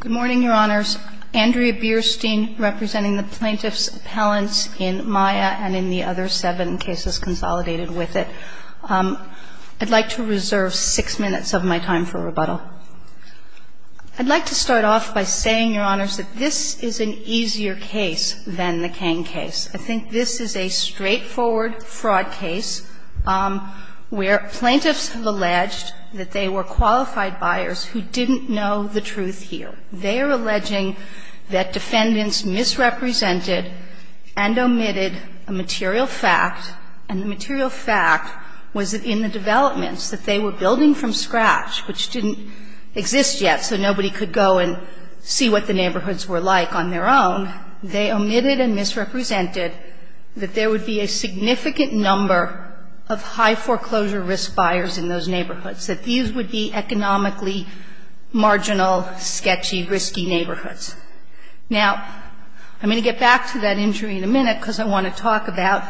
Good morning, Your Honors. Andrea Bierstein representing the plaintiffs' appellants in Maya and in the other seven cases consolidated with it. I'd like to reserve six minutes of my time for rebuttal. I'd like to start off by saying, Your Honors, that this is an easier case than the Kang case. I think this is a straightforward fraud case where plaintiffs have alleged that they were qualified buyers who didn't know the truth here. They are alleging that defendants misrepresented and omitted a material fact, and the material fact was that in the developments that they were building from scratch, which didn't exist yet so nobody could go and see what the neighborhoods were like on their own, they omitted and misrepresented that there would be a significant number of high foreclosure risk buyers in those neighborhoods, that these would be economically marginal, sketchy, risky neighborhoods. Now, I'm going to get back to that injury in a minute because I want to talk about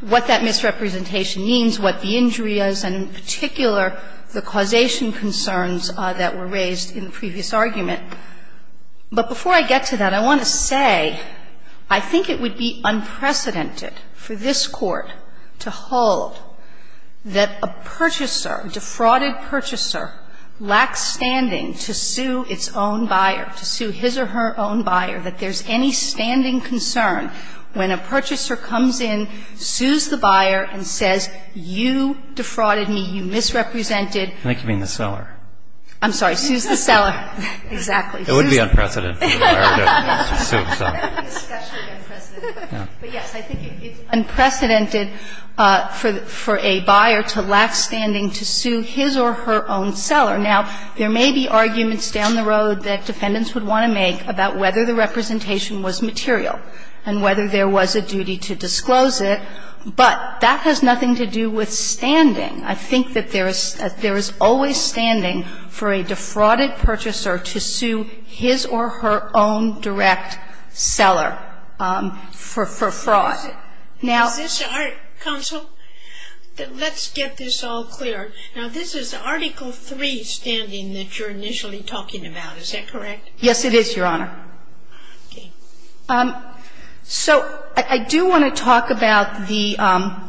what that misrepresentation means, what the injury is, and in particular, the causation concerns that were raised in the previous argument. But before I get to that, I want to say I think it would be unprecedented for this Court to hold that a purchaser, a defrauded purchaser, lacks standing to sue its own buyer, to sue his or her own buyer, that there's any standing concern when a purchaser comes in, sues the buyer, and says, you defrauded me, you misrepresented. I think you mean the seller. I'm sorry. Sues the seller. Exactly. It wouldn't be unprecedented for the buyer to sue himself. But, yes, I think it's unprecedented for a buyer to lack standing to sue his or her own seller. Now, there may be arguments down the road that Defendants would want to make about whether the representation was material and whether there was a duty to disclose it, but that has nothing to do with standing. I think that there is always standing for a defrauded purchaser to sue his or her own direct seller for fraud. Now ---- Is this our counsel? Let's get this all clear. Now, this is Article III standing that you're initially talking about. Is that correct? Yes, it is, Your Honor. Okay. So I do want to talk about the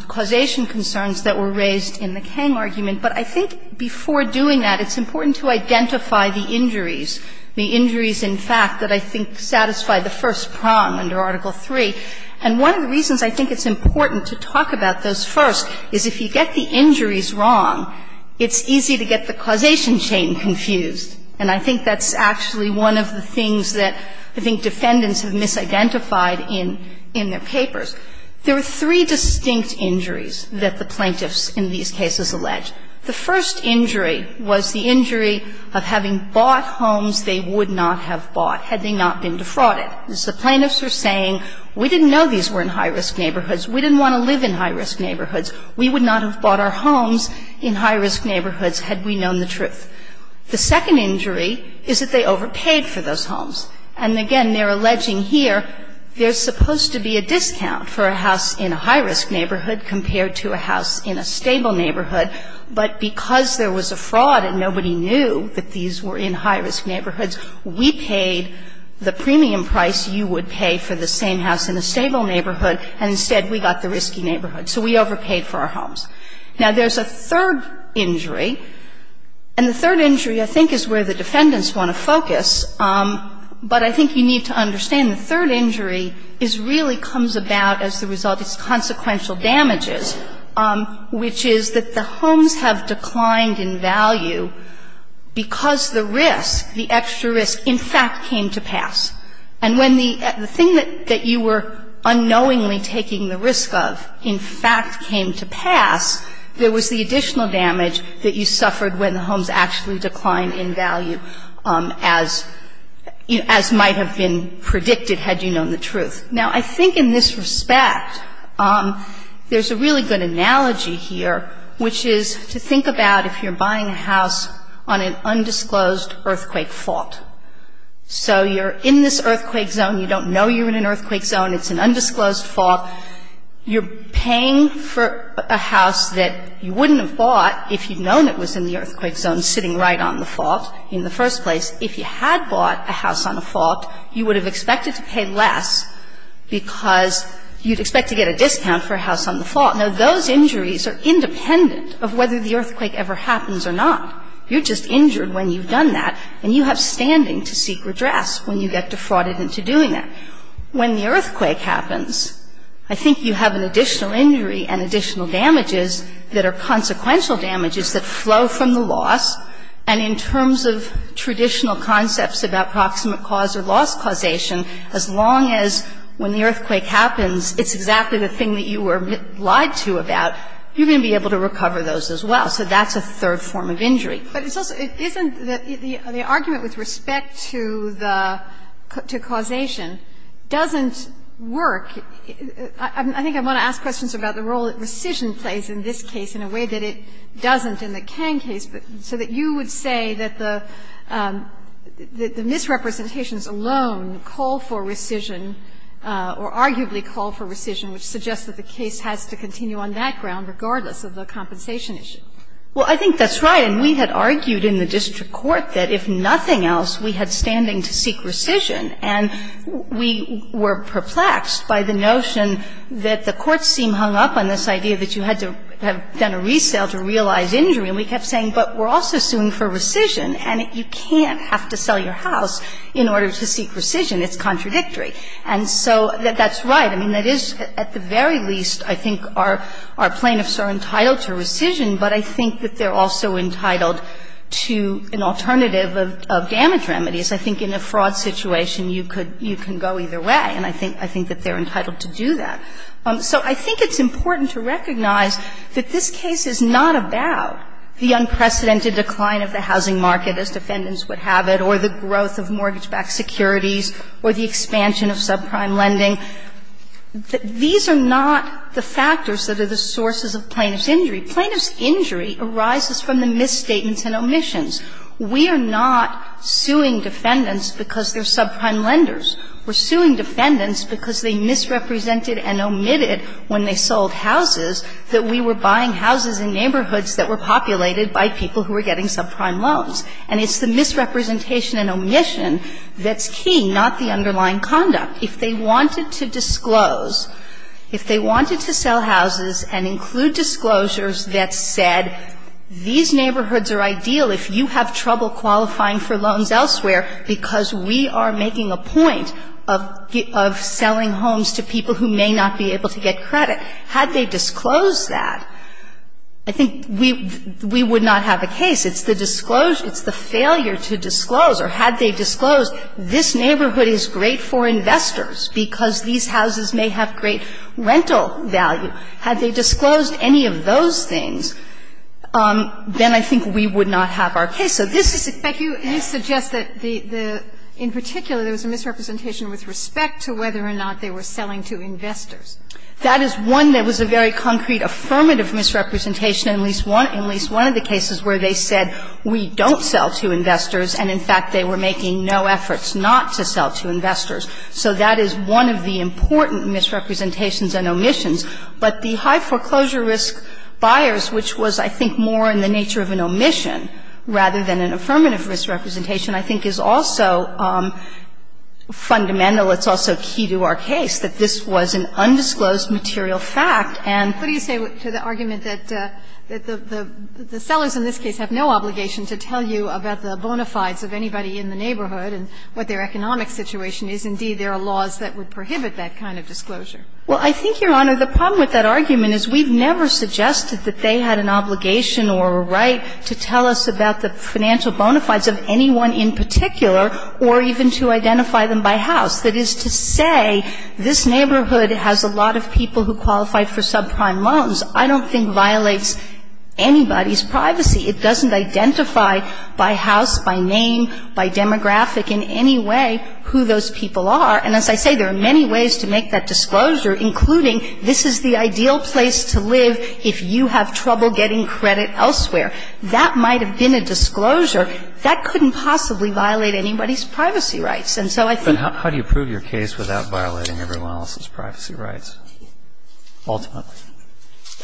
causation concerns that were raised in the Kang argument. But I think before doing that, it's important to identify the injuries, the injuries in fact that I think satisfy the first prong under Article III. And one of the reasons I think it's important to talk about those first is if you get the injuries wrong, it's easy to get the causation chain confused. And I think that's actually one of the things that I think Defendants have misidentified in their papers. There are three distinct injuries that the plaintiffs in these cases allege. The first injury was the injury of having bought homes they would not have bought had they not been defrauded. The plaintiffs are saying we didn't know these were in high-risk neighborhoods. We didn't want to live in high-risk neighborhoods. We would not have bought our homes in high-risk neighborhoods had we known the truth. The second injury is that they overpaid for those homes. And again, they're alleging here there's supposed to be a discount for a house in a high-risk neighborhood compared to a house in a stable neighborhood. But because there was a fraud and nobody knew that these were in high-risk neighborhoods, we paid the premium price you would pay for the same house in a stable neighborhood, and instead we got the risky neighborhood. So we overpaid for our homes. Now, there's a third injury, and the third injury I think is where the Defendants want to focus, but I think you need to understand the third injury is really comes about as the result of consequential damages, which is that the homes have declined in value because the risk, the extra risk, in fact came to pass. And when the thing that you were unknowingly taking the risk of in fact came to pass, there was the additional damage that you suffered when the homes actually declined in value as might have been predicted had you known the truth. Now, I think in this respect there's a really good analogy here, which is to think about if you're buying a house on an undisclosed earthquake fault. So you're in this earthquake zone. You don't know you're in an earthquake zone. It's an undisclosed fault. You're paying for a house that you wouldn't have bought if you'd known it was in the earthquake zone sitting right on the fault in the first place. If you had bought a house on a fault, you would have expected to pay less because you'd expect to get a discount for a house on the fault. Now, those injuries are independent of whether the earthquake ever happens or not. You're just injured when you've done that, and you have standing to seek redress when you get defrauded into doing that. When the earthquake happens, I think you have an additional injury and additional damages that are consequential damages that flow from the loss. And in terms of traditional concepts about proximate cause or loss causation, as long as when the earthquake happens, it's exactly the thing that you were lied to about, you're going to be able to recover those as well. So that's a third form of injury. But it's also isn't the argument with respect to the causation doesn't work. I think I want to ask questions about the role that rescission plays in this case in a way that it doesn't in the Kang case, so that you would say that the misrepresentations alone call for rescission or arguably call for rescission, which suggests that the case has to continue on that ground regardless of the compensation issue. Well, I think that's right. And we had argued in the district court that if nothing else, we had standing to seek rescission. And we were perplexed by the notion that the courts seemed hung up on this idea that you had to have done a resale to realize injury. And we kept saying, but we're also suing for rescission, and you can't have to sell your house in order to seek rescission. It's contradictory. And so that's right. I mean, that is, at the very least, I think our plaintiffs are entitled to rescission. But I think that they're also entitled to an alternative of damage remedies. I think in a fraud situation, you could go either way. And I think that they're entitled to do that. So I think it's important to recognize that this case is not about the unprecedented decline of the housing market, as defendants would have it, or the growth of mortgage-backed securities or the expansion of subprime lending. These are not the factors that are the sources of plaintiff's injury. Plaintiff's injury arises from the misstatements and omissions. We are not suing defendants because they're subprime lenders. We're suing defendants because they misrepresented and omitted when they sold houses that we were buying houses in neighborhoods that were populated by people who were getting subprime loans. And it's the misrepresentation and omission that's key, not the underlying conduct. If they wanted to disclose, if they wanted to sell houses and include disclosures that said, these neighborhoods are ideal if you have trouble qualifying for loans elsewhere because we are making a point of selling homes to people who may not be able to get credit, had they disclosed that, I think we would not have a case. It's the disclosure, it's the failure to disclose, or had they disclosed, this neighborhood is great for investors because these houses may have great rental value. Had they disclosed any of those things, then I think we would not have our case. So this is a question. Kagan. You suggest that in particular there was a misrepresentation with respect to whether or not they were selling to investors. That is one that was a very concrete, affirmative misrepresentation, at least one of the cases where they said we don't sell to investors, and in fact they were making no efforts not to sell to investors. So that is one of the important misrepresentations and omissions. But the high foreclosure risk buyers, which was, I think, more in the nature of an omission rather than an affirmative misrepresentation, I think is also fundamental. It's also key to our case that this was an undisclosed material fact and the argument that the sellers in this case have no obligation to tell you about the bona fides of anybody in the neighborhood and what their economic situation is. Indeed, there are laws that would prohibit that kind of disclosure. Well, I think, Your Honor, the problem with that argument is we've never suggested that they had an obligation or a right to tell us about the financial bona fides of anyone in particular or even to identify them by house. That is to say, this neighborhood has a lot of people who qualify for subprime loans. I don't think violates anybody's privacy. It doesn't identify by house, by name, by demographic in any way who those people are. And as I say, there are many ways to make that disclosure, including this is the ideal place to live if you have trouble getting credit elsewhere. That might have been a disclosure. That couldn't possibly violate anybody's privacy rights. And so I think the law is not a violation of anybody's privacy rights. Ultimately.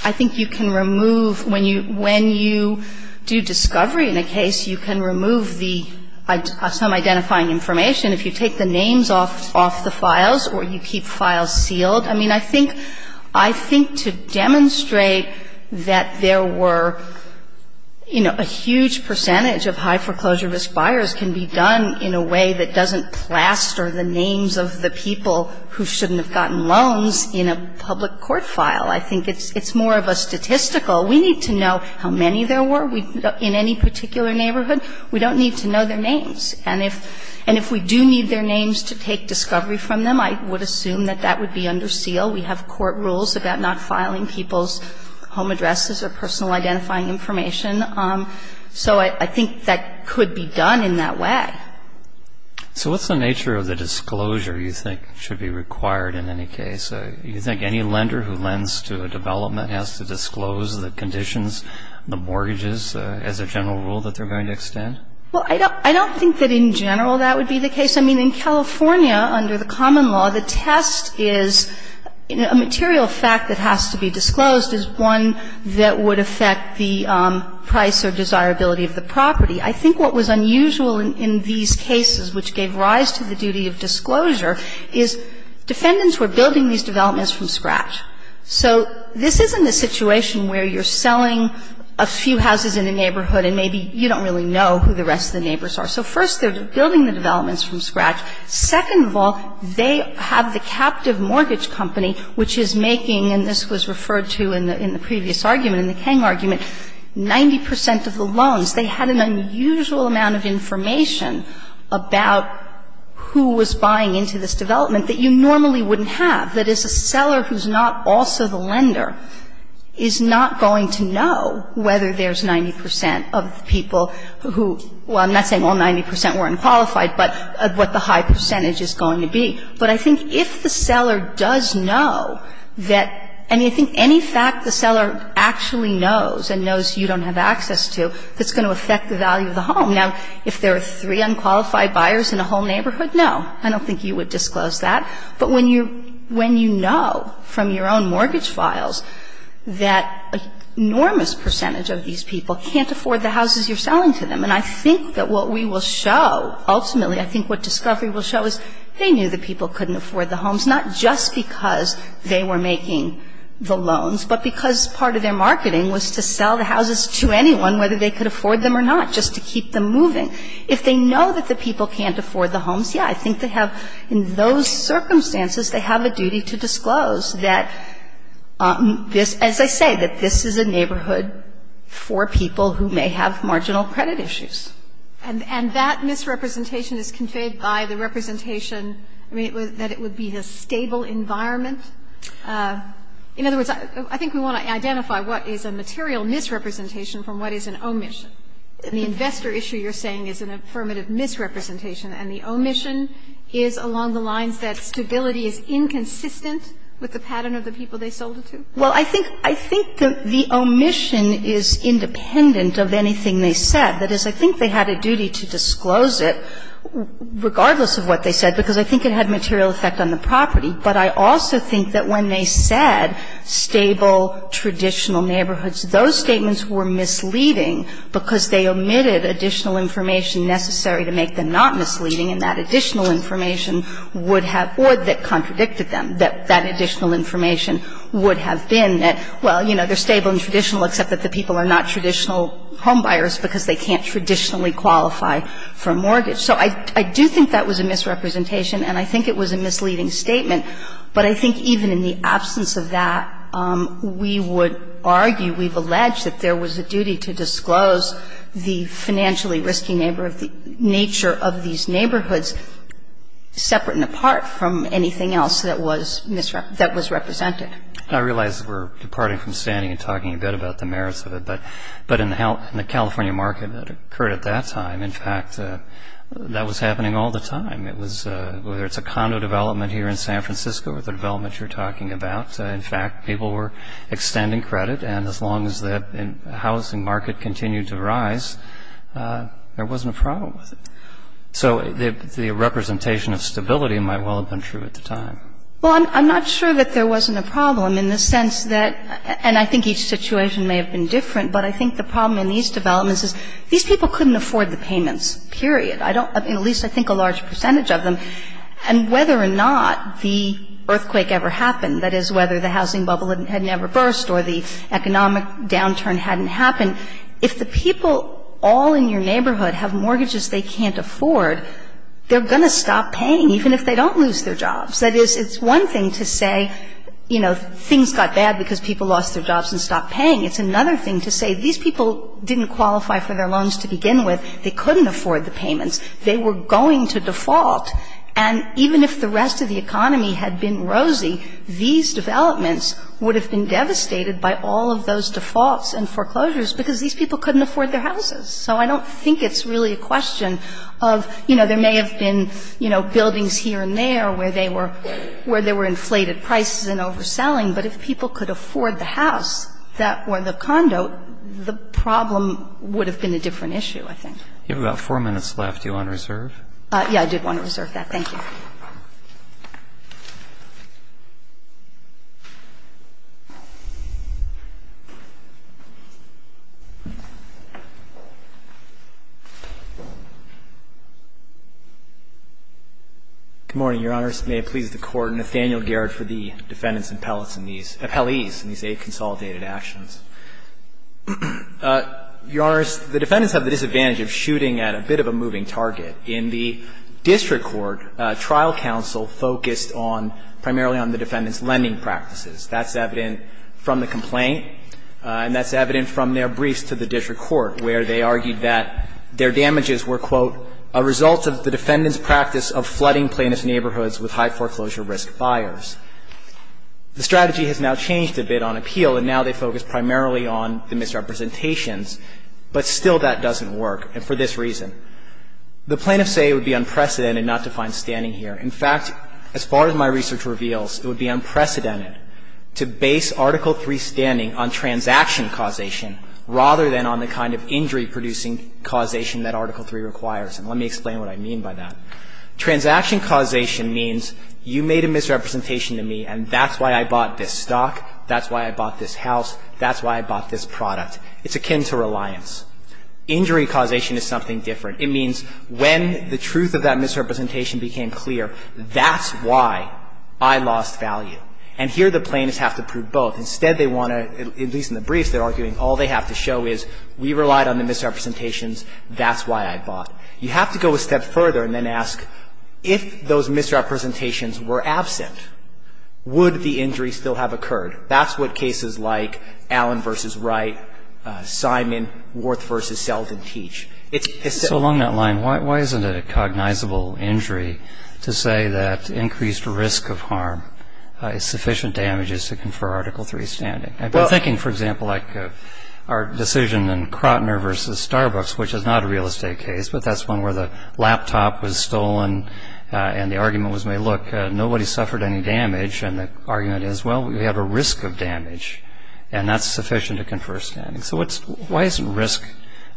I think you can remove when you do discovery in a case, you can remove the some identifying information if you take the names off the files or you keep files sealed. I mean, I think to demonstrate that there were, you know, a huge percentage of high foreclosure risk buyers can be done in a way that doesn't plaster the names of the people who shouldn't have gotten loans in a public court file. I think it's more of a statistical. We need to know how many there were in any particular neighborhood. We don't need to know their names. And if we do need their names to take discovery from them, I would assume that that would be under seal. We have court rules about not filing people's home addresses or personal identifying information. So I think that could be done in that way. So what's the nature of the disclosure you think should be required in any case? You think any lender who lends to a development has to disclose the conditions, the mortgages, as a general rule that they're going to extend? Well, I don't think that in general that would be the case. I mean, in California, under the common law, the test is a material fact that has to be disclosed is one that would affect the price or desirability of the property. I think what was unusual in these cases, which gave rise to the duty of disclosure, is defendants were building these developments from scratch. So this isn't a situation where you're selling a few houses in a neighborhood and maybe you don't really know who the rest of the neighbors are. So first, they're building the developments from scratch. Second of all, they have the captive mortgage company, which is making, and this was referred to in the previous argument, in the Kang argument, 90 percent of the loans. They had an unusual amount of information about who was buying into this development that you normally wouldn't have. That is, a seller who's not also the lender is not going to know whether there's 90 percent of the people who – well, I'm not saying all 90 percent were unqualified, but what the high percentage is going to be. But I think if the seller does know that – I mean, I think any fact the seller actually knows and knows you don't have access to, that's going to affect the value of the home. Now, if there are three unqualified buyers in a whole neighborhood, no, I don't think you would disclose that. But when you know from your own mortgage files that an enormous percentage of these people can't afford the houses you're selling to them, and I think that what we will show, ultimately, I think what discovery will show is they knew the people couldn't afford the homes, not just because they were making the loans, but because part of their marketing was to sell the houses to anyone, whether they could afford them or not, just to keep them moving. If they know that the people can't afford the homes, yeah, I think they have – in those circumstances, they have a duty to disclose that this – as I say, that this is a neighborhood for people who may have marginal credit issues. And that misrepresentation is conveyed by the representation, I mean, that it would be a stable environment. In other words, I think we want to identify what is a material misrepresentation from what is an omission. The investor issue you're saying is an affirmative misrepresentation, and the omission is along the lines that stability is inconsistent with the pattern of the people they sold it to? Well, I think the omission is independent of anything they said. That is, I think they had a duty to disclose it, regardless of what they said, because I think it had material effect on the property. But I also think that when they said stable, traditional neighborhoods, those statements were misleading because they omitted additional information necessary to make them not misleading, and that additional information would have – or that contradicted them, that that additional information would have been that, well, you know, they're stable and traditional, except that the people are not traditional homebuyers because they can't traditionally qualify for a mortgage. So I do think that was a misrepresentation, and I think it was a misleading statement. But I think even in the absence of that, we would argue, we've alleged that there was a duty to disclose the financially risky nature of these neighborhoods separate and apart from anything else that was misrepresented. I realize we're departing from standing and talking a bit about the merits of it. But in the California market that occurred at that time, in fact, that was happening all the time. It was – whether it's a condo development here in San Francisco or the development you're talking about, in fact, people were extending credit, and as long as that housing market continued to rise, there wasn't a problem with it. So the representation of stability might well have been true at the time. Well, I'm not sure that there wasn't a problem in the sense that – and I think each situation may have been different, but I think the problem in these developments is these people couldn't afford the payments, period. I don't – at least I think a large percentage of them. And whether or not the earthquake ever happened, that is, whether the housing bubble had never burst or the economic downturn hadn't happened, if the people all in your neighborhood have mortgages they can't afford, they're going to stop paying, even if they don't lose their jobs. That is, it's one thing to say, you know, things got bad because people lost their jobs, they're going to stop paying. It's another thing to say, these people didn't qualify for their loans to begin with, they couldn't afford the payments, they were going to default. And even if the rest of the economy had been rosy, these developments would have been devastated by all of those defaults and foreclosures because these people couldn't afford their houses. So I don't think it's really a question of, you know, there may have been, you know, buildings here and there where they were – where there were inflated prices and overselling, but if people could afford the house or the condo, the problem would have been a different issue, I think. You have about four minutes left. Do you want to reserve? Yes, I did want to reserve that. Thank you. Good morning, Your Honors. May it please the Court, Nathaniel Garrett for the defendants' appellees in these aid-consolidated actions. Your Honors, the defendants have the disadvantage of shooting at a bit of a moving target. In the district court, trial counsel focused on – primarily on the defendants' lending practices. That's evident from the complaint, and that's evident from their briefs to the district court, where they argued that their damages were, quote, a result of the defendants' practice of flooding plaintiff's neighborhoods with high foreclosure risk buyers. The strategy has now changed a bit on appeal, and now they focus primarily on the misrepresentations, but still that doesn't work, and for this reason. The plaintiffs say it would be unprecedented not to find standing here. In fact, as far as my research reveals, it would be unprecedented to base Article III standing on transaction causation rather than on the kind of injury-producing causation that Article III requires. And let me explain what I mean by that. Transaction causation means you made a misrepresentation to me, and that's why I bought this stock, that's why I bought this house, that's why I bought this product. It's akin to reliance. Injury causation is something different. It means when the truth of that misrepresentation became clear, that's why I lost value. And here the plaintiffs have to prove both. Instead, they want to – at least in the briefs, they're arguing all they have to show is we relied on the misrepresentations, that's why I bought. You have to go a step further and then ask, if those misrepresentations were absent, would the injury still have occurred? That's what cases like Allen v. Wright, Simon, Worth v. Selden teach. It's – So along that line, why isn't it a cognizable injury to say that increased risk of harm is sufficient damages to confer Article III standing? I've been thinking, for example, like our decision in Crotner v. Starbucks, which is not a real estate case, but that's one where the laptop was stolen and the argument was made, look, nobody suffered any damage, and the argument is, well, we have a risk of damage, and that's sufficient to confer standing. So what's – why isn't risk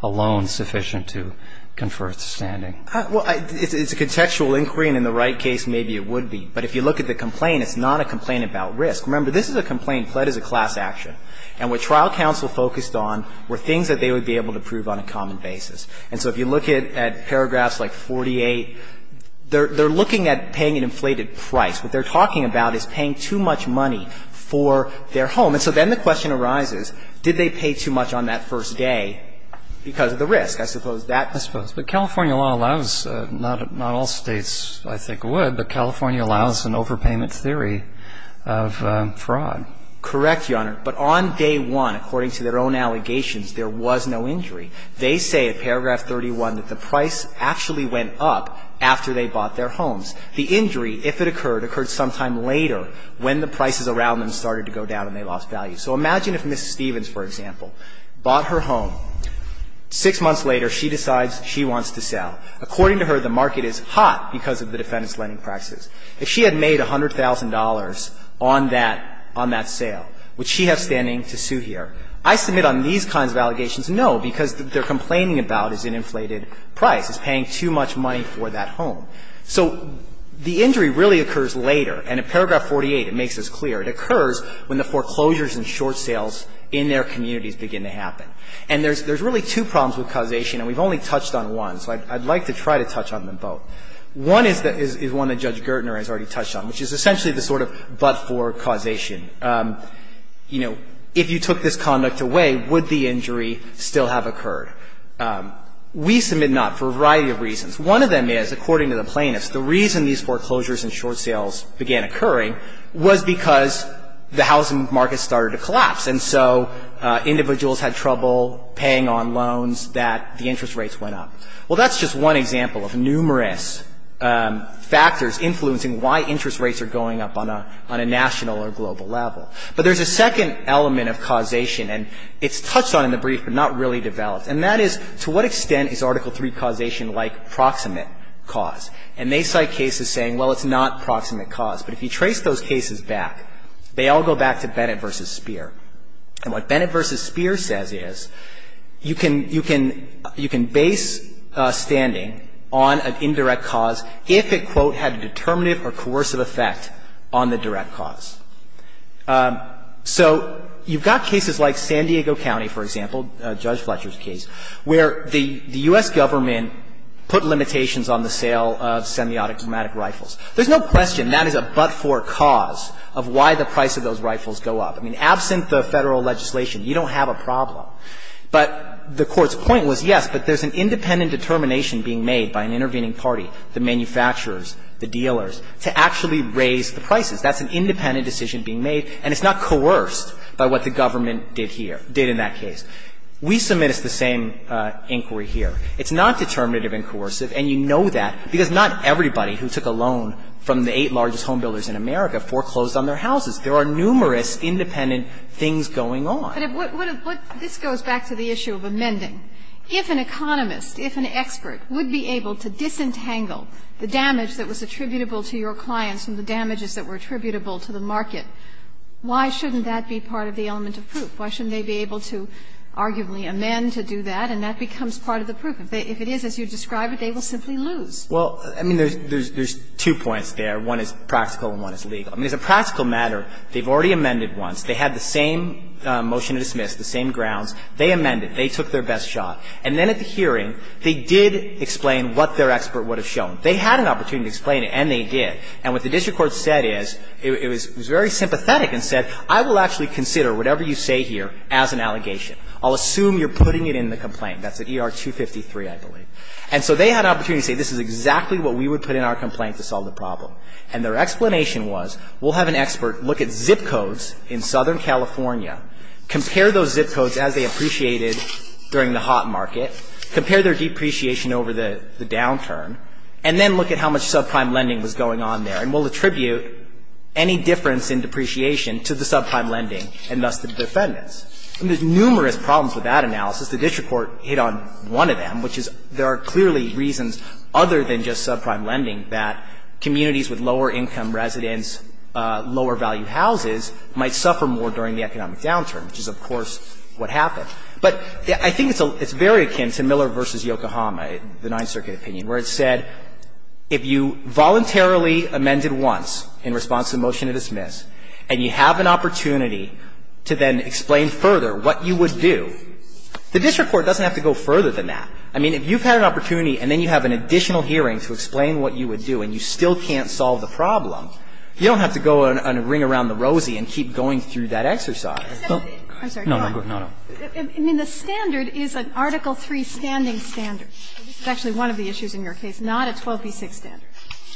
alone sufficient to confer standing? Well, it's a contextual inquiry, and in the Wright case, maybe it would be. But if you look at the complaint, it's not a complaint about risk. Remember, this is a complaint pled as a class action. And what trial counsel focused on were things that they would be able to prove on a common basis. And so if you look at paragraphs like 48, they're looking at paying an inflated price. What they're talking about is paying too much money for their home. And so then the question arises, did they pay too much on that first day because of the risk? I suppose that's the case. But California law allows, not all States, I think, would, but California allows an overpayment theory of fraud. Correct, Your Honor. But on day one, according to their own allegations, there was no injury. They say in paragraph 31 that the price actually went up after they bought their homes. The injury, if it occurred, occurred sometime later when the prices around them started to go down and they lost value. So imagine if Ms. Stevens, for example, bought her home. Six months later, she decides she wants to sell. According to her, the market is hot because of the defendant's lending practices. If she had made $100,000 on that – on that sale, would she have standing to sue here? I submit on these kinds of allegations, no, because what they're complaining about is an inflated price, is paying too much money for that home. So the injury really occurs later. And in paragraph 48, it makes this clear. It occurs when the foreclosures and short sales in their communities begin to happen. And there's really two problems with causation, and we've only touched on one. So I'd like to try to touch on them both. One is one that Judge Gertner has already touched on, which is essentially the sort of but-for causation. You know, if you took this conduct away, would the injury still have occurred? We submit not for a variety of reasons. One of them is, according to the plaintiffs, the reason these foreclosures and short sales began occurring was because the housing market started to collapse. And so individuals had trouble paying on loans that the interest rates went up. Well, that's just one example of numerous factors influencing why interest rates are going up on a – on a national or global level. But there's a second element of causation, and it's touched on in the brief but not really developed, and that is, to what extent is Article III causation like proximate cause? And they cite cases saying, well, it's not proximate cause. But if you trace those cases back, they all go back to Bennett v. Speer. And what Bennett v. Speer says is, you can – you can – you can base standing on an indirect cause if it, quote, had a determinative or coercive effect on the direct cause. So you've got cases like San Diego County, for example, Judge Fletcher's case, where the U.S. Government put limitations on the sale of semiotic automatic rifles. There's no question that is a but-for cause of why the price of those rifles go up. I mean, absent the Federal legislation, you don't have a problem. But the Court's point was, yes, but there's an independent determination being made by an intervening party, the manufacturers, the dealers, to actually raise the prices. That's an independent decision being made, and it's not coerced by what the government did here – did in that case. We submit as the same inquiry here. It's not determinative and coercive, and you know that, because not everybody who took a loan from the eight largest homebuilders in America foreclosed on their houses. There are numerous independent things going on. But what – what – this goes back to the issue of amending. If an economist, if an expert would be able to disentangle the damage that was attributable to your clients and the damages that were attributable to the market, why shouldn't that be part of the element of proof? Why shouldn't they be able to arguably amend to do that, and that becomes part of the proof? If it is as you describe it, they will simply lose. Well, I mean, there's two points there. One is practical and one is legal. I mean, as a practical matter, they've already amended once. They had the same motion to dismiss, the same grounds. They amended. They took their best shot. And then at the hearing, they did explain what their expert would have shown. They had an opportunity to explain it, and they did. And what the district court said is – it was very sympathetic and said, I will actually consider whatever you say here as an allegation. I'll assume you're putting it in the complaint. That's at ER 253, I believe. And so they had an opportunity to say, this is exactly what we would put in our complaint to solve the problem. And their explanation was, we'll have an expert look at zip codes in Southern California, compare those zip codes as they appreciated during the hot market, compare their depreciation over the downturn, and then look at how much subprime lending was going on there. And we'll attribute any difference in depreciation to the subprime lending and thus the defendants. I mean, there's numerous problems with that analysis. The district court hit on one of them, which is there are clearly reasons other than just subprime lending that communities with lower-income residents, lower-value houses might suffer more during the economic downturn, which is, of course, what happened. But I think it's very akin to Miller v. Yokohama, the Ninth Circuit opinion, where it said if you voluntarily amended once in response to the motion to dismiss and you have an opportunity to then explain further what you would do, the district court doesn't have to go further than that. I mean, if you've had an opportunity and then you have an additional hearing to explain what you would do and you still can't solve the problem, you don't have to go and ring around the rosy and keep going through that exercise. I'm sorry. No, no, go ahead. No, no. I mean, the standard is an Article III standing standard. This is actually one of the issues in your case, not a 12b-6 standard.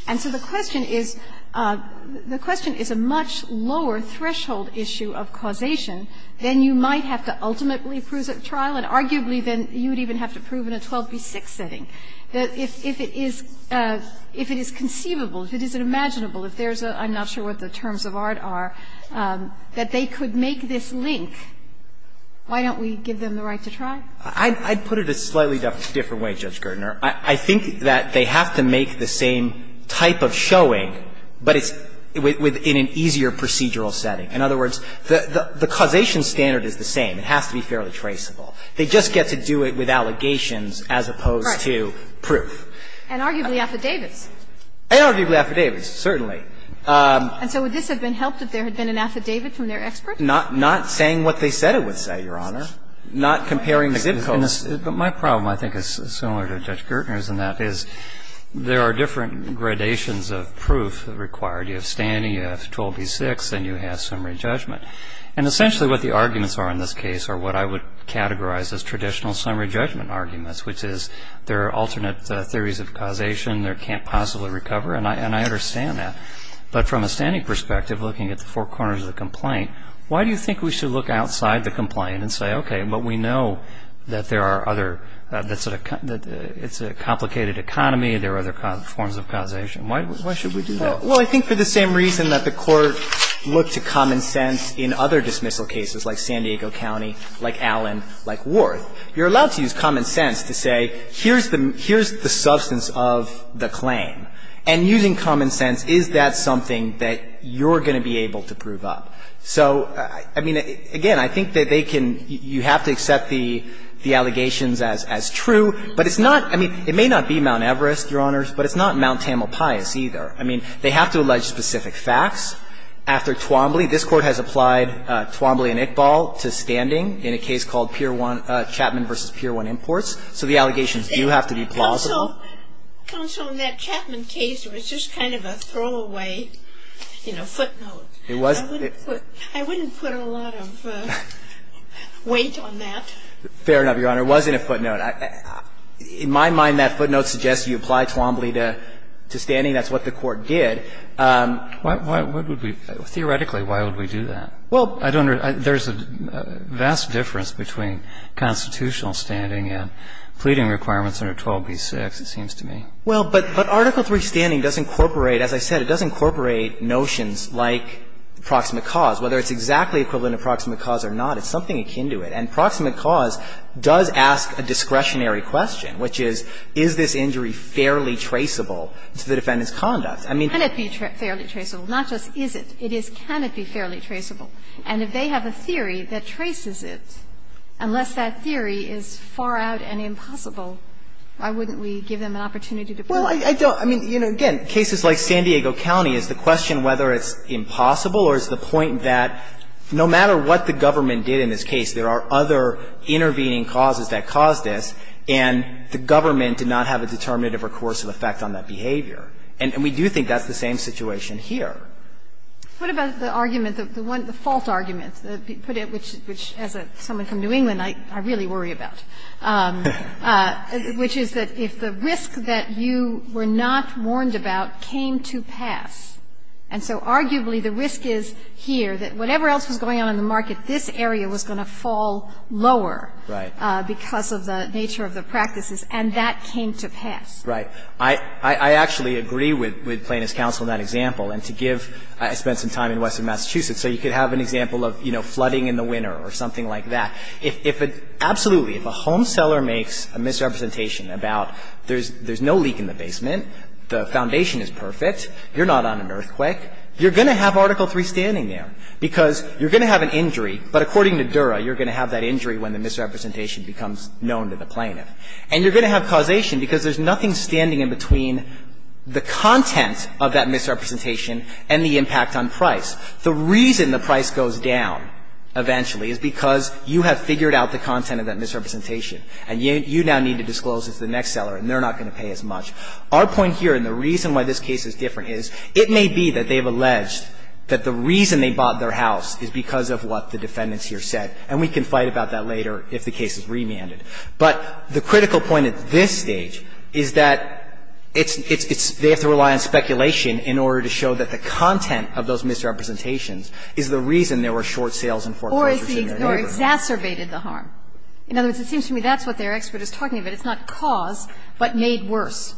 And so the question is, the question is a much lower threshold issue of causation than you might have to ultimately prove at trial and arguably than you would even have to prove in a 12b-6 setting. If it is conceivable, if it is imaginable, if there's a – I'm not sure what the terms of art are, that they could make this link, why don't we give them the right to try? I'd put it a slightly different way, Judge Gertner. I think that they have to make the same type of showing, but it's within an easier procedural setting. In other words, the causation standard is the same. It has to be fairly traceable. They just get to do it with allegations as opposed to proof. And arguably affidavits. And arguably affidavits, certainly. And so would this have been helped if there had been an affidavit from their expert? Not saying what they said it would say, Your Honor. Not comparing the zip codes. But my problem, I think, is similar to Judge Gertner's, and that is there are different gradations of proof required. You have Stanny, you have 12b-6, and you have summary judgment. And essentially what the arguments are in this case are what I would categorize as traditional summary judgment arguments, which is there are alternate theories of causation. There can't possibly recover. And I understand that. But from a Stanny perspective, looking at the four corners of the complaint, why do you think we should look outside the complaint and say, okay, but we know that there are other, it's a complicated economy, there are other forms of causation. Why should we do that? Well, I think for the same reason that the Court looked to common sense in other dismissal cases, like San Diego County, like Allen, like Worth. You're allowed to use common sense to say, here's the substance of the claim. And using common sense, is that something that you're going to be able to prove up? So, I mean, again, I think that they can, you have to accept the allegations as true. But it's not, I mean, it may not be Mount Everest, Your Honors, but it's not Mount Tamalpais either. I mean, they have to allege specific facts. After Twombly, this Court has applied Twombly and Iqbal to standing in a case called Chapman v. Pier 1 Imports. So the allegations do have to be plausible. Counsel, in that Chapman case, it was just kind of a throwaway, you know, footnote. It wasn't. I wouldn't put a lot of weight on that. Fair enough, Your Honor. It wasn't a footnote. In my mind, that footnote suggests you apply Twombly to standing. That's what the Court did. What would we, theoretically, why would we do that? Well, I don't, there's a vast difference between constitutional standing and pleading requirements under 12b-6, it seems to me. Well, but Article III standing does incorporate, as I said, it does incorporate notions like proximate cause. Whether it's exactly equivalent to proximate cause or not, it's something akin to it. And proximate cause does ask a discretionary question, which is, is this injury fairly traceable to the defendant's conduct? I mean, can it be fairly traceable? Not just is it, it is, can it be fairly traceable? And if they have a theory that traces it, unless that theory is far out and impossible why wouldn't we give them an opportunity to prove it? Well, I don't, I mean, again, cases like San Diego County, it's the question whether it's impossible or it's the point that no matter what the government did in this case, there are other intervening causes that caused this, and the government did not have a determinative or coercive effect on that behavior. And we do think that's the same situation here. What about the argument, the one, the fault argument, which as someone from New England, I really worry about? Which is that if the risk that you were not warned about came to pass, and so arguably the risk is here, that whatever else was going on in the market, this area was going to fall lower because of the nature of the practices, and that came to pass. Right. I actually agree with Plaintiff's counsel in that example. And to give, I spent some time in western Massachusetts, so you could have an example of, you know, flooding in the winter or something like that. If a, absolutely, if a home seller makes a misrepresentation about there's no leak in the basement, the foundation is perfect, you're not on an earthquake, you're going to have Article III standing there, because you're going to have an injury, but according to Dura, you're going to have that injury when the misrepresentation becomes known to the plaintiff, and you're going to have causation because there's nothing standing in between the content of that misrepresentation and the impact on price. The reason the price goes down eventually is because you have figured out the content of that misrepresentation, and you now need to disclose it to the next seller, and they're not going to pay as much. Our point here, and the reason why this case is different, is it may be that they have alleged that the reason they bought their house is because of what the defendants here said, and we can fight about that later if the case is remanded. But the critical point at this stage is that it's, it's, they have to rely on speculation in order to show that the content of those misrepresentations is the reason there were short sales and foreclosures in their neighborhood. Or exacerbated the harm. In other words, it seems to me that's what their expert is talking about. It's not cause, but made worse.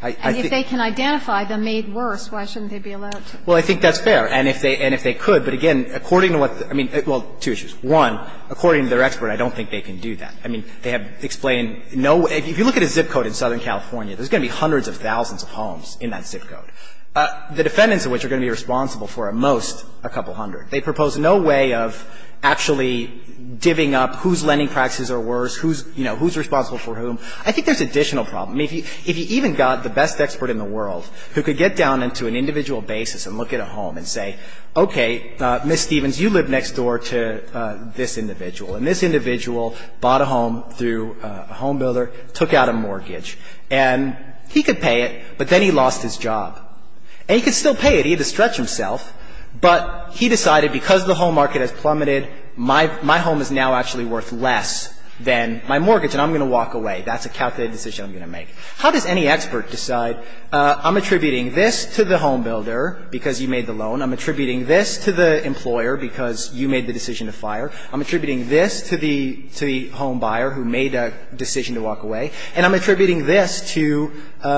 And if they can identify the made worse, why shouldn't they be allowed to? Well, I think that's fair. And if they could, but again, according to what the – well, two issues. One, according to their expert, I don't think they can do that. I mean, they have explained no way – if you look at a ZIP code in Southern California, there's going to be hundreds of thousands of homes in that ZIP code. The defendants of which are going to be responsible for at most a couple hundred. They propose no way of actually divvying up whose lending practices are worse, who's, you know, who's responsible for whom. I think there's additional problem. I mean, if you even got the best expert in the world who could get down into an individual basis and look at a home and say, okay, Ms. Stevens, you live next door to this individual, and this individual bought a home through a home builder, took out a mortgage, and he could pay it, but then he lost his job. And he could still pay it. He had to stretch himself. But he decided because the home market has plummeted, my home is now actually worth less than my mortgage, and I'm going to walk away. That's a calculated decision I'm going to make. How does any expert decide, I'm attributing this to the home builder because you made the loan. I'm attributing this to the employer because you made the decision to fire. I'm attributing this to the home buyer who made a decision to walk away. And I'm attributing this to the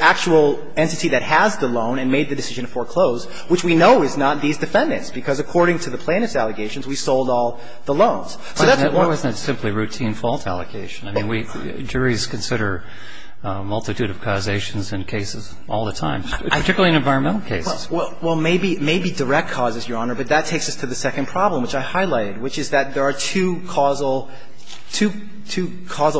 actual entity that has the loan and made the decision to foreclose, which we know is not these defendants because according to the plaintiff's allegations, we sold all the loans. So that's a one- But wasn't it simply routine fault allocation? I mean, we, juries consider a multitude of causations in cases all the time, particularly in environmental cases. Well, maybe direct causes, Your Honor, but that takes us to the second problem, which I highlighted, which is that there are two causal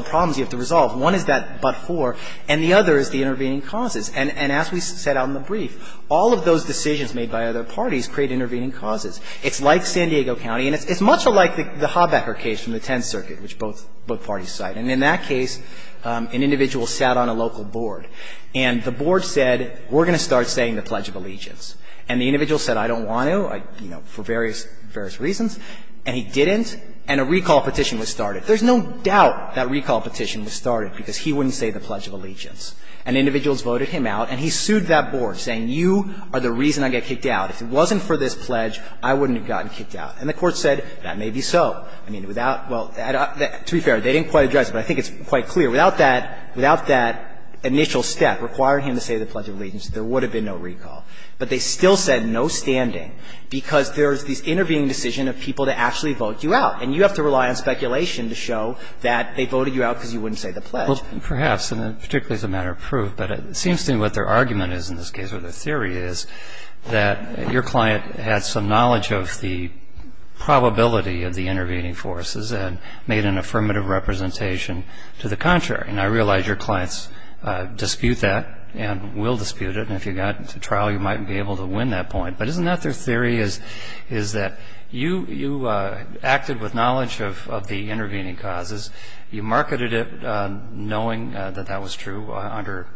problems you have to resolve. One is that but-for, and the other is the intervening causes. And as we set out in the brief, all of those decisions made by other parties create intervening causes. It's like San Diego County, and it's much like the Hobacker case from the Tenth Circuit, which both parties cite. And in that case, an individual sat on a local board, and the board said, we're going to start saying the Pledge of Allegiance. And the individual said, I don't want to. I, you know, for various, various reasons, and he didn't, and a recall petition was started. There's no doubt that recall petition was started because he wouldn't say the Pledge of Allegiance. And individuals voted him out, and he sued that board, saying, you are the reason I get kicked out. If it wasn't for this pledge, I wouldn't have gotten kicked out. And the Court said, that may be so. I mean, without – well, to be fair, they didn't quite address it, but I think it's quite clear. Without that, without that initial step requiring him to say the Pledge of Allegiance, there would have been no recall. But they still said no standing because there's this intervening decision of people to actually vote you out. And you have to rely on speculation to show that they voted you out because you wouldn't say the Pledge. Well, perhaps, and particularly as a matter of proof. But it seems to me what their argument is in this case, or their theory is, that your client had some knowledge of the probability of the intervening forces and made an affirmative representation to the contrary. And I realize your clients dispute that and will dispute it. And if you got to trial, you might be able to win that point. But isn't that their theory, is that you acted with knowledge of the intervening causes. You marketed it knowing that that was true under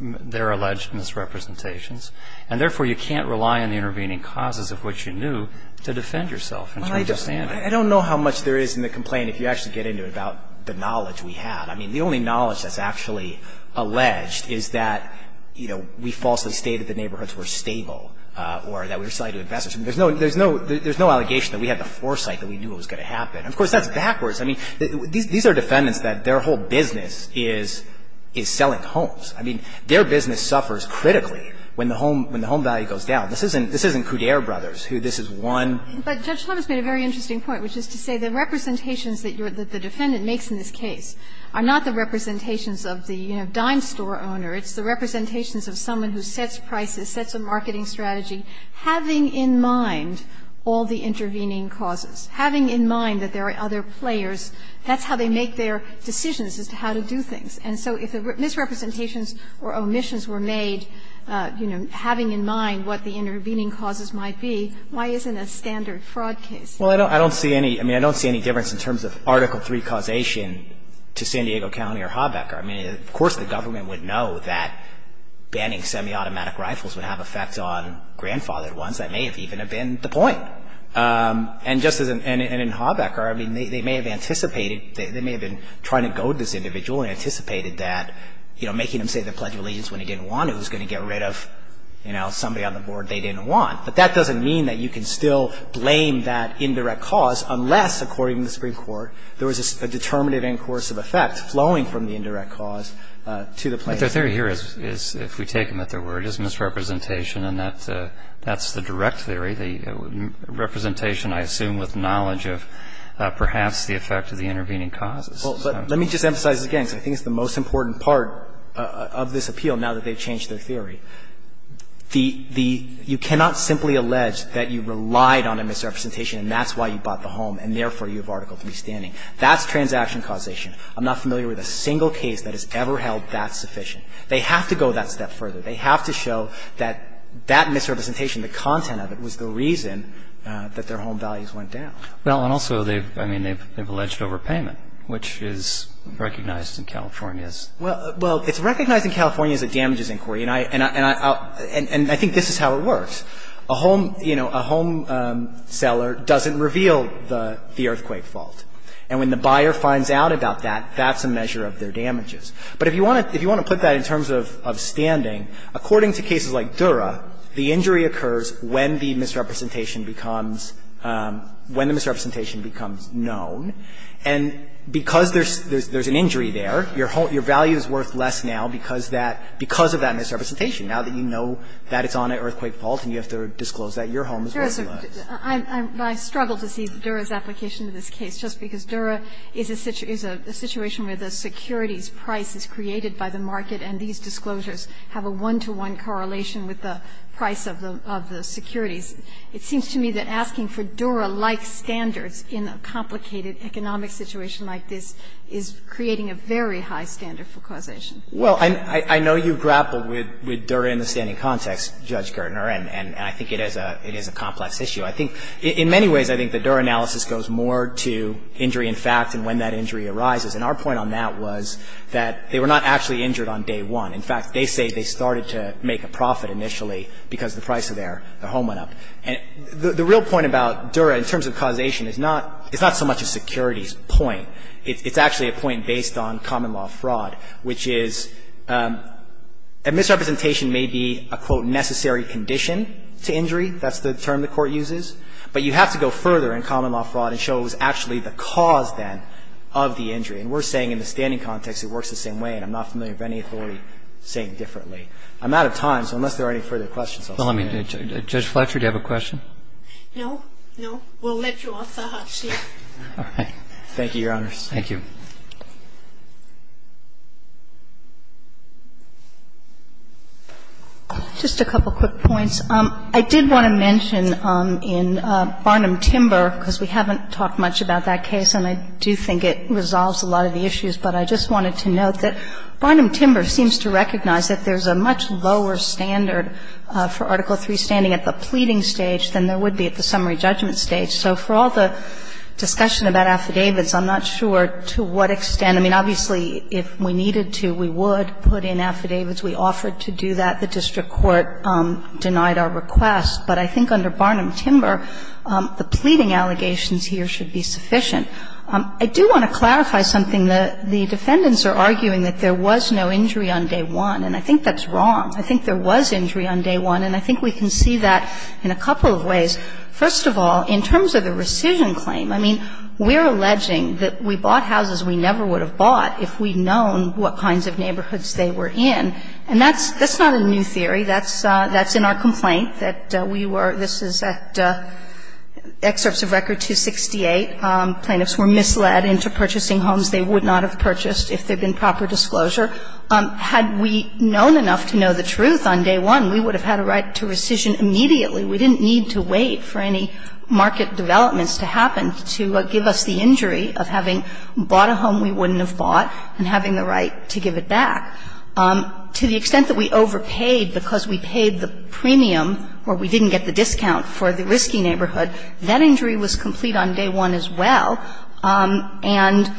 their alleged misrepresentations. And therefore, you can't rely on the intervening causes of which you knew to defend yourself in terms of standing. I don't know how much there is in the complaint, if you actually get into it, about the knowledge we had. I mean, the only knowledge that's actually alleged is that, you know, we falsely stated the neighborhoods were stable or that we were selling to investors. There's no allegation that we had the foresight that we knew it was going to happen. Of course, that's backwards. I mean, these are defendants that their whole business is selling homes. I mean, their business suffers critically when the home value goes down. This isn't Coudere brothers, who this is one. But Judge Levis made a very interesting point, which is to say the representations that the defendant makes in this case are not the representations of the, you know, dime store owner. It's the representations of someone who sets prices, sets a marketing strategy, having in mind all the intervening causes, having in mind that there are other players. That's how they make their decisions as to how to do things. And so if misrepresentations or omissions were made, you know, having in mind what the intervening causes might be, why isn't a standard fraud case? Well, I don't see any. I mean, I don't see any difference in terms of Article III causation to San Diego County or Haubecker. I mean, of course, the government would know that banning semi-automatic rifles would have effects on grandfathered ones. That may have even have been the point. And just as in Haubecker, I mean, they may have anticipated, they may have been trying to goad this individual and anticipated that, you know, making him say the Pledge of Allegiance when he didn't want it was going to get rid of, you know, somebody on the board they didn't want. But that doesn't mean that you can still blame that indirect cause unless, according to the Supreme Court, there was a determinative end course of effect flowing from the indirect cause to the plaintiff. But their theory here is, if we take them at their word, is misrepresentation, and that's the direct theory, the representation, I assume, with knowledge of perhaps the effect of the intervening causes. Well, but let me just emphasize this again because I think it's the most important part of this appeal now that they've changed their theory. The you cannot simply allege that you relied on a misrepresentation and that's why you bought the home and, therefore, you have Article 3 standing. That's transaction causation. I'm not familiar with a single case that has ever held that sufficient. They have to go that step further. They have to show that that misrepresentation, the content of it, was the reason that their home values went down. Well, and also they've, I mean, they've alleged overpayment, which is recognized in California's. Well, it's recognized in California's that damages inquiry. And I think this is how it works. A home, you know, a home seller doesn't reveal the earthquake fault. And when the buyer finds out about that, that's a measure of their damages. But if you want to put that in terms of standing, according to cases like Dura, the injury occurs when the misrepresentation becomes known. And because there's an injury there, your value is worth less now because of that misrepresentation. Now that you know that it's on an earthquake fault and you have to disclose that, your home is worth less. I struggle to see Dura's application to this case just because Dura is a situation where the securities price is created by the market and these disclosures have a one-to-one correlation with the price of the securities. It seems to me that asking for Dura-like standards in a complicated economic situation like this is creating a very high standard for causation. Well, I know you grappled with Dura in the standing context, Judge Gertner, and I think it is a complex issue. I think in many ways, I think the Dura analysis goes more to injury in fact and when that injury arises. And our point on that was that they were not actually injured on day one. In fact, they say they started to make a profit initially because the price of their home went up. And the real point about Dura in terms of causation is not so much a securities point, it's actually a point based on common law fraud, which is a misrepresentation may be a, quote, necessary condition to injury, that's the term the court uses, but you have to go further in common law fraud and show it was actually the cause then of the injury. And we're saying in the standing context, it works the same way and I'm not familiar with any authority saying differently. I'm out of time, so unless there are any further questions, I'll stop there. Judge Fletcher, do you have a question? No, no. We'll let you off the hot seat. All right. Thank you, Your Honors. Thank you. Just a couple quick points. I did want to mention in Barnum-Timber, because we haven't talked much about that case and I do think it resolves a lot of the issues, but I just wanted to note that Barnum-Timber seems to recognize that there's a much lower standard for Article III standing at the pleading stage than there would be at the summary judgment stage. So for all the discussion about affidavits, I'm not sure to what extent. I mean, obviously, if we needed to, we would put in affidavits. We offered to do that. The district court denied our request. But I think under Barnum-Timber, the pleading allegations here should be sufficient. I do want to clarify something. The defendants are arguing that there was no injury on day one, and I think that's wrong. I think there was injury on day one, and I think we can see that in a couple of ways. First of all, in terms of the rescission claim, I mean, we're alleging that we bought houses we never would have bought if we'd known what kinds of neighborhoods they were in. And that's not a new theory. That's in our complaint that we were at, this is at Excerpts of Record 268, plaintiffs were misled into purchasing homes they would not have purchased if there had been proper disclosure. Had we known enough to know the truth on day one, we would have had a right to rescission immediately. We didn't need to wait for any market developments to happen to give us the injury of having bought a home we wouldn't have bought and having the right to give it back. To the extent that we overpaid because we paid the premium or we didn't get the discount for the risky neighborhood, that injury was complete on day one as well, and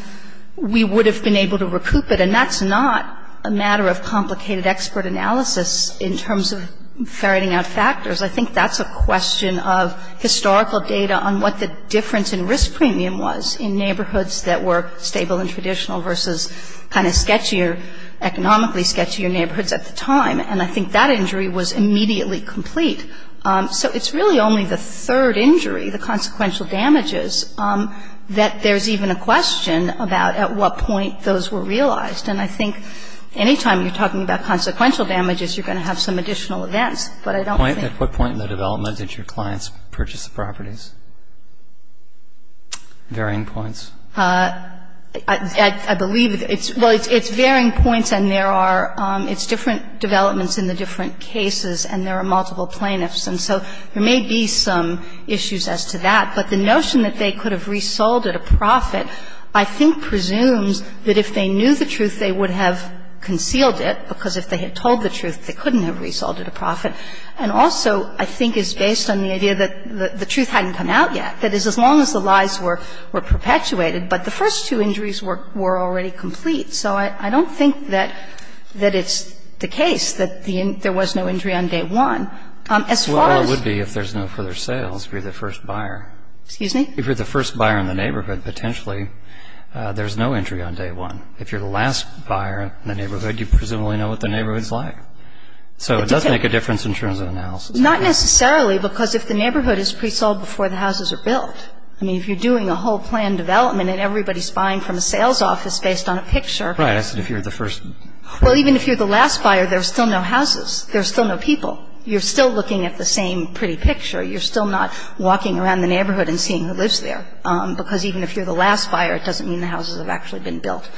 we would have been able to recoup it. And that's not a matter of complicated expert analysis in terms of ferreting out factors. I think that's a question of historical data on what the difference in risk premium was in neighborhoods that were stable and traditional versus kind of sketchier, economically sketchier neighborhoods at the time. And I think that injury was immediately complete. So it's really only the third injury, the consequential damages, that there's even a question about at what point those were realized. And I think any time you're talking about consequential damages, you're going to have some additional events. But I don't think that's the point. Roberts, at what point in the development did your clients purchase the properties? Varying points. I believe it's – well, it's varying points, and there are – it's different developments in the different cases, and there are multiple plaintiffs. And so there may be some issues as to that, but the notion that they could have resold at a profit I think presumes that if they knew the truth, they would have concealed it, because if they had told the truth, they couldn't have resold at a profit. And also, I think it's based on the idea that the truth hadn't come out yet. That is, as long as the lies were perpetuated, but the first two injuries were already complete. So I don't think that it's the case that there was no injury on day one. As far as – Well, it would be if there's no further sales, if you're the first buyer. Excuse me? If you're the first buyer in the neighborhood, potentially there's no injury on day one. If you're the last buyer in the neighborhood, you presumably know what the neighborhood's like. So it does make a difference in terms of analysis. Not necessarily, because if the neighborhood is pre-sold before the houses are built. I mean, if you're doing a whole plan development and everybody's buying from a sales office based on a picture. Right. I said if you're the first. Well, even if you're the last buyer, there are still no houses. There are still no people. You're still looking at the same pretty picture. You're still not walking around the neighborhood and seeing who lives there, because even if you're the last buyer, it doesn't mean the houses have actually been built.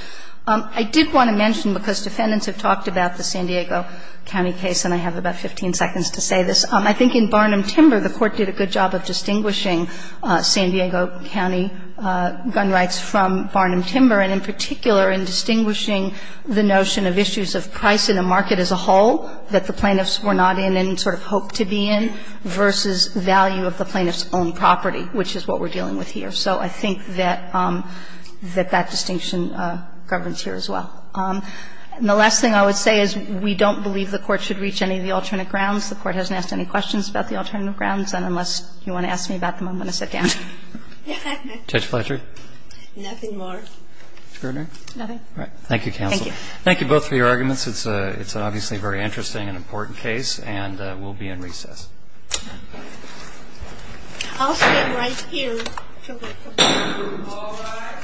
I did want to mention, because defendants have talked about the San Diego County case, and I have about 15 seconds to say this, I think in Barnum-Timber, the Court did a good job of distinguishing San Diego County gun rights from Barnum-Timber, and in particular in distinguishing the notion of issues of price in the market as a whole that the plaintiffs were not in and sort of hoped to be in, versus value of the plaintiff's own property, which is what we're dealing with here. So I think that that distinction governs here as well. And the last thing I would say is we don't believe the Court should reach any of the alternate grounds. The Court hasn't asked any questions about the alternate grounds, and unless you want to ask me about them, I'm going to sit down. Roberts. Judge Fletcher. Nothing more. Mr. Gardner. Nothing. All right. Thank you, counsel. Thank you. Thank you both for your arguments. It's an obviously very interesting and important case, and we'll be in recess. I'll stand right here. All right.